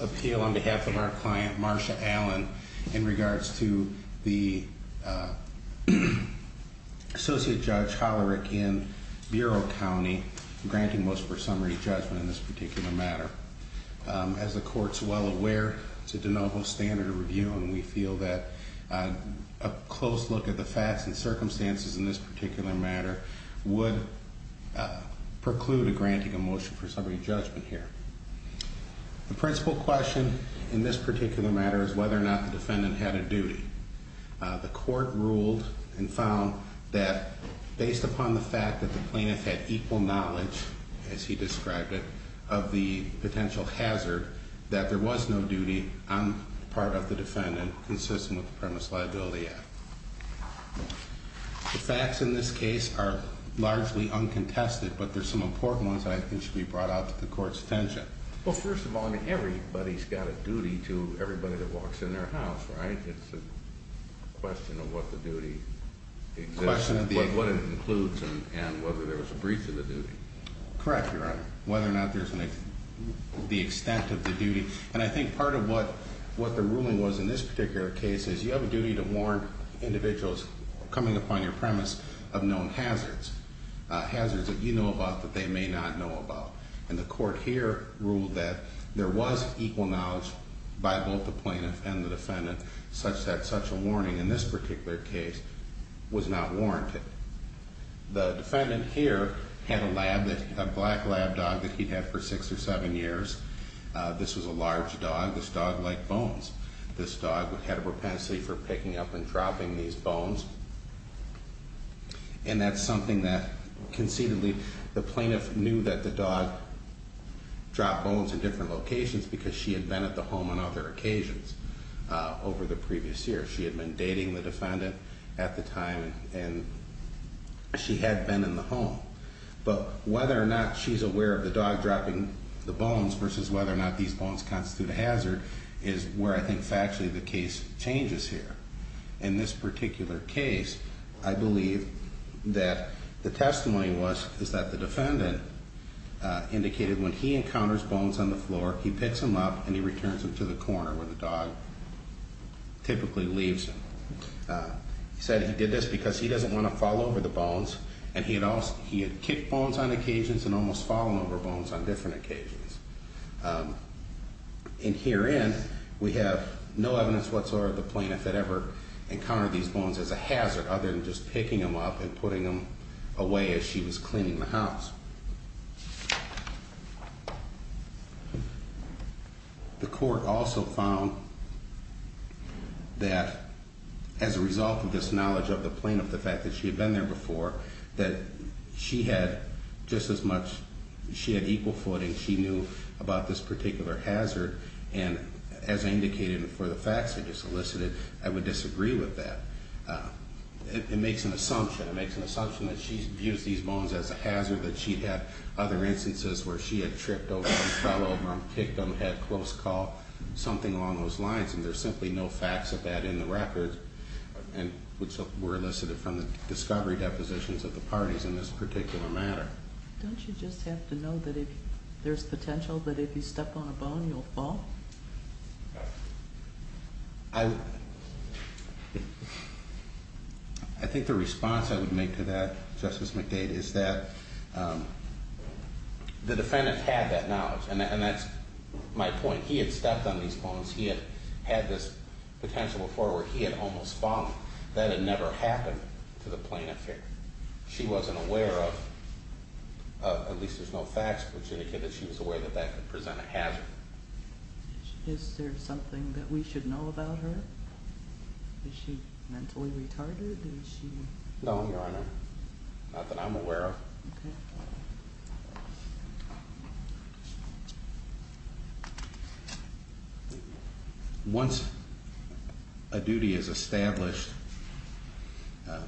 appeal on behalf of our client, Marsha Allen, in regards to the, uh, Associate Judge Hollerick in Bureau County, granting motion for summary judgment in this particular matter. Um, as the court's well aware, it's a de novo standard of review, and we feel that, uh, a close look at the facts and circumstances in this particular matter would, uh, preclude a granting a motion for summary judgment here. The principal question in this particular matter is whether or not the defendant had a duty. Uh, the court ruled and found that based upon the fact that the plaintiff had equal knowledge, as he described it, of the potential hazard, that there was no duty on the part of the defendant consistent with the premise liability act. The facts in this case are largely uncontested, but there's some important ones that I think should be brought out to the court's attention. Well, first of all, I mean, everybody's got a duty to everybody that walks in their house, right? It's a question of what the duty is, what it includes and whether there was a breach of the duty. Correct. Your honor, whether or not there's the extent of the duty. And I think part of what, what the ruling was in this particular case is you have a duty to warn individuals coming upon your premise of known hazards, uh, hazards that you know about that they may not know about. And the court here ruled that there was equal knowledge by both the plaintiff and the defendant such that such a warning in this particular case was not warranted. The defendant here had a lab, a black lab dog that he'd had for six or seven years. Uh, this was a large dog, this dog liked bones. This dog would have a propensity for picking up and dropping these bones. And that's something that conceivably the plaintiff knew that the dog dropped bones in different locations because she had been at the home on other occasions. Uh, over the previous year, she had been dating the defendant at the time and she had been in the home, but whether or not she's aware of the dog dropping the bones versus whether or not these bones constitute a hazard is where I think factually the case changes here. In this particular case, I believe that the testimony was, is that the defendant, uh, indicated when he encounters bones on the floor, he picks them up and he uh, typically leaves him, uh, said he did this because he doesn't want to fall over the bones and he had also, he had kicked bones on occasions and almost fallen over bones on different occasions. Um, and here in, we have no evidence whatsoever. The plaintiff had ever encountered these bones as a hazard other than just picking them up and putting them away as she was cleaning the house. Okay. The court also found that as a result of this knowledge of the plaintiff, the fact that she had been there before, that she had just as much, she had equal footing. She knew about this particular hazard. And as I indicated for the facts, I just solicited, I would disagree with that. Uh, it makes an assumption. It makes an assumption that she's used these bones as a hazard, that she'd had other instances where she had tripped over them, fell over them, kicked them, had close call, something along those lines. And there's simply no facts of that in the records and which were elicited from the discovery depositions of the parties in this particular matter. Don't you just have to know that if there's potential, that if you step on a bone, you'll fall? I, I think the response I would make to that Justice McDade is that, um, the defendant had that knowledge. And that's my point. He had stepped on these bones. He had had this potential before where he had almost fallen. That had never happened to the plaintiff here. She wasn't aware of, uh, at least there's no facts which indicate that she was aware that that could present a hazard. Is there something that we should know about her? Is she mentally retarded? Did she? No, Your Honor. Not that I'm aware of. Once a duty is established, um,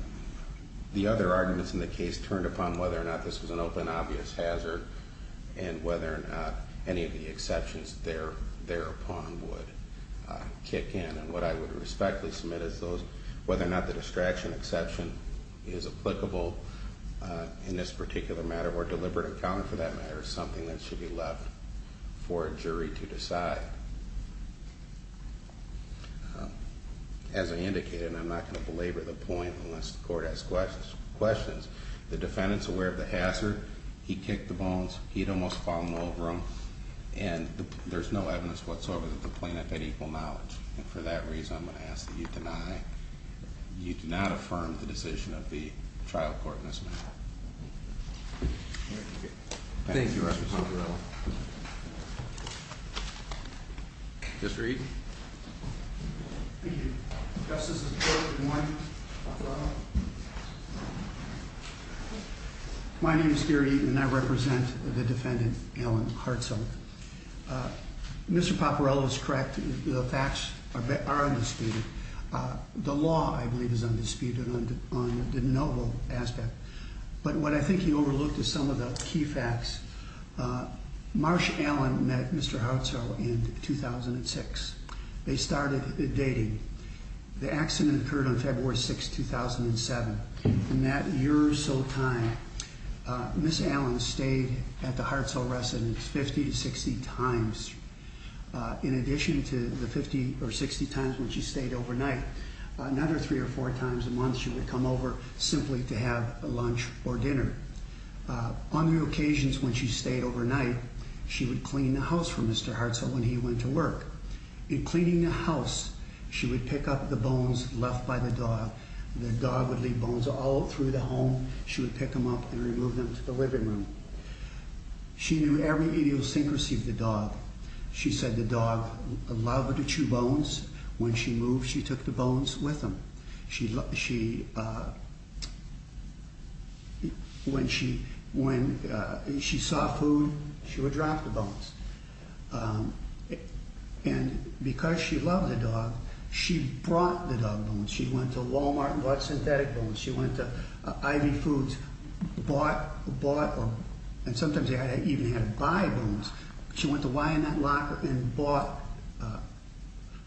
the other arguments in the case turned upon whether or not this was an open, obvious hazard and whether or not any of the I would respectfully submit as those, whether or not the distraction exception is applicable, uh, in this particular matter or deliberate account for that matter is something that should be left for a jury to decide. As I indicated, and I'm not going to belabor the point unless the court has questions, questions, the defendant's aware of the hazard. He kicked the bones. He'd almost fallen over them. And there's no evidence whatsoever that the plaintiff had equal knowledge. And for that reason, I'm going to ask that you deny, you do not affirm the decision of the trial court in this matter. Thank you. Just read. My name is Gary and I represent the defendant. Alan Hartzell. Uh, Mr. Paparella is correct. The facts are, are undisputed. Uh, the law, I believe is undisputed on the, on the novel aspect. But what I think he overlooked is some of the key facts. Uh, Marsh Allen met Mr. Hartzell in 2006. They started dating. The accident occurred on February 6th, 2007. In that year or so time, uh, Ms. Allen stayed at the Hartzell residence 50 to 60 times. Uh, in addition to the 50 or 60 times when she stayed overnight, uh, another three or four times a month, she would come over simply to have a lunch or dinner, uh, on the occasions when she stayed overnight, she would clean the house for Mr. Hartzell when he went to work. In cleaning the house, she would pick up the bones left by the dog. The dog would leave bones all through the home. She would pick them up and remove them to the living room. She knew every idiosyncrasy of the dog. She said the dog loved to chew bones. When she moved, she took the bones with him. She, she, uh, when she, when, uh, she saw food, she would drop the bones. Um, and because she loved the dog, she brought the dog bones. She went to Walmart and bought synthetic bones. She went to Ivy foods, bought, bought, and sometimes they even had to buy bones. She went to Y and that locker and bought, uh,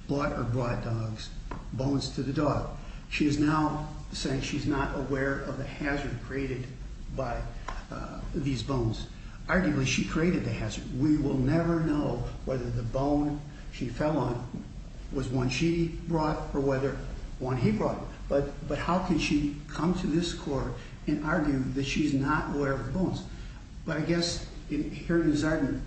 bought or brought dogs, bones to the dog. She is now saying she's not aware of the hazard created by, uh, these bones. Arguably she created the hazard. We will never know whether the bone she fell on was one she brought or whether one he brought, but, but how can she come to this court and argue that she's not aware of the bones? But I guess here in Zardin,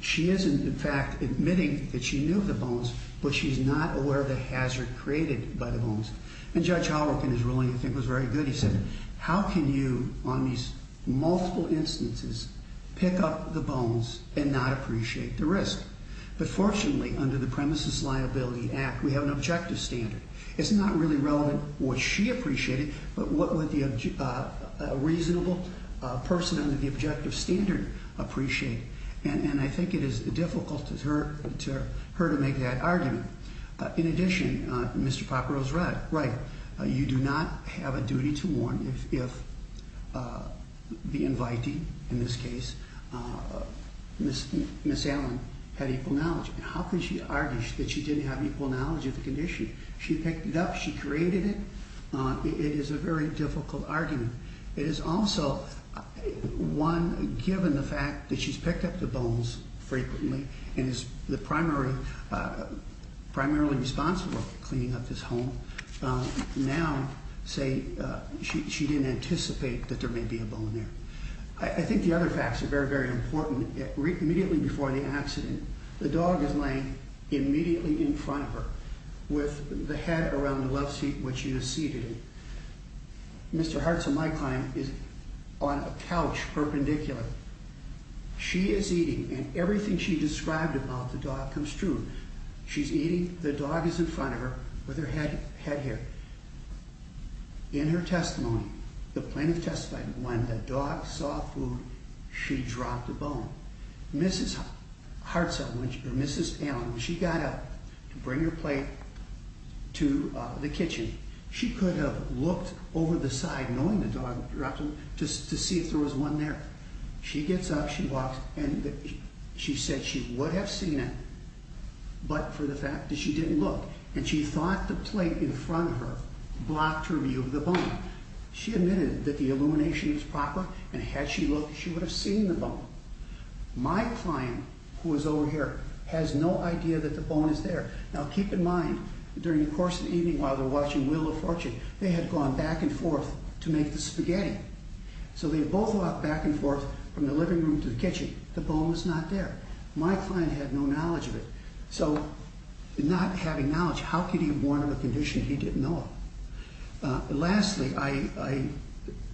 she isn't in fact admitting that she knew the bones, but she's not aware of the hazard created by the bones. And judge Halloran in his ruling, I think was very good. He said, how can you on these multiple instances, pick up the bones and not appreciate the risk? But fortunately under the premises liability act, we have an objective standard, it's not really relevant what she appreciated, but what would the reasonable person under the objective standard appreciate. And I think it is difficult to her, to her, to make that argument. Uh, in addition, uh, Mr. Popper was right, right. Uh, you do not have a duty to warn if, if, uh, the invitee in this case, uh, Miss Allen had equal knowledge. How can she argue that she didn't have equal knowledge of the condition? She picked it up. She created it. Uh, it is a very difficult argument. It is also one given the fact that she's picked up the bones frequently and is the primary, uh, primarily responsible for cleaning up this home. Um, now say, uh, she, she didn't anticipate that there may be a bone there. I think the other facts are very, very important. It re immediately before the accident, the dog is laying immediately in front of her with the head around the love seat, which you see today, Mr. Hartzell, my client is on a couch perpendicular. She is eating and everything she described about the dog comes true. She's eating. The dog is in front of her with her head, head here in her testimony, the plaintiff testified when the dog saw food, she dropped the bone. Mrs. Hartzell, which Mrs. Allen, when she got up to bring your plate to the kitchen, she could have looked over the side, knowing the dog dropped them just to see if there was one there. She gets up, she walks and she said she would have seen it, but for the fact that she didn't look and she thought the plate in front of her blocked her view of the illumination was proper and had she looked, she would have seen the bone. My client who was over here has no idea that the bone is there. Now, keep in mind during the course of the evening, while they're watching Wheel of Fortune, they had gone back and forth to make the spaghetti. So they both walked back and forth from the living room to the kitchen. The bone was not there. My client had no knowledge of it. So not having knowledge, how could he have warned of a condition? He didn't know it. Lastly,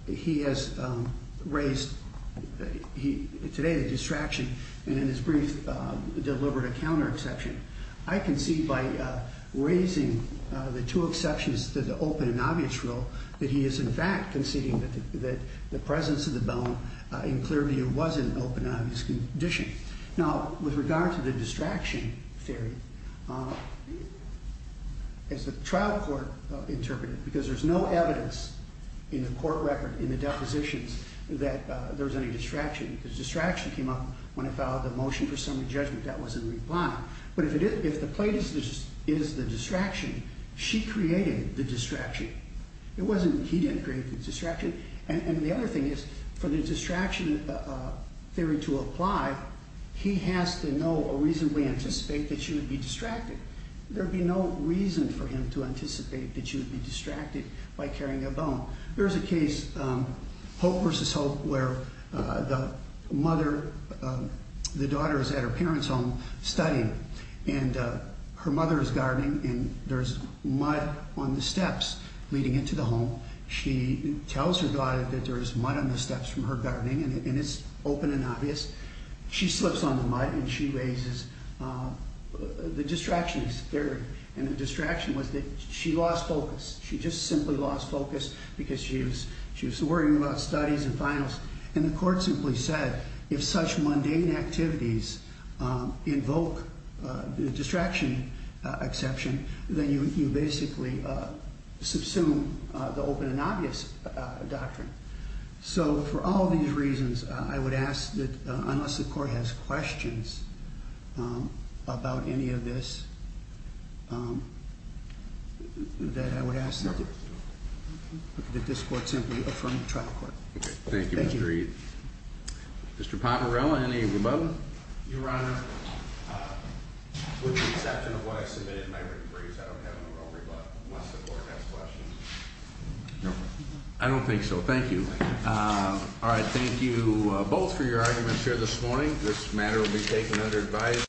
he has raised today the distraction and in his brief delivered a counter exception. I can see by raising the two exceptions to the open and obvious rule that he is in fact conceding that the presence of the bone in clear view was an open and obvious condition. Now, with regard to the distraction theory, as the trial court interpreted, because there's no evidence in the court record in the depositions that there was any distraction, the distraction came up when it followed the motion for summary judgment that was in reply. But if the plate is the distraction, she created the distraction. It wasn't he didn't create the distraction. And the other thing is for the distraction theory to apply, he has to know or reasonably anticipate that she would be distracted. There'd be no reason for him to anticipate that she would be distracted by carrying a bone. There is a case, Hope versus Hope, where the mother, the daughter is at her parents' home studying and her mother is gardening and there's mud on the steps leading into the home. She tells her daughter that there is mud on the steps from her gardening and it's open and obvious. She slips on the mud and she raises the distraction theory. And the distraction was that she lost focus. She just simply lost focus because she was she was worrying about studies and finals. And the court simply said, if such mundane activities invoke the distraction exception, then you basically subsume the open and obvious doctrine. So for all these reasons, I would ask that unless the court has questions about any of this, that I would ask that this court simply affirm the trial court. Thank you. Mr. Papparella, any of the above? Your Honor, with the exception of what I submitted in my written briefs, I don't have an overbought unless the court has questions. I don't think so. Thank you. All right. Thank you both for your arguments here this morning. This matter will be taken under advice.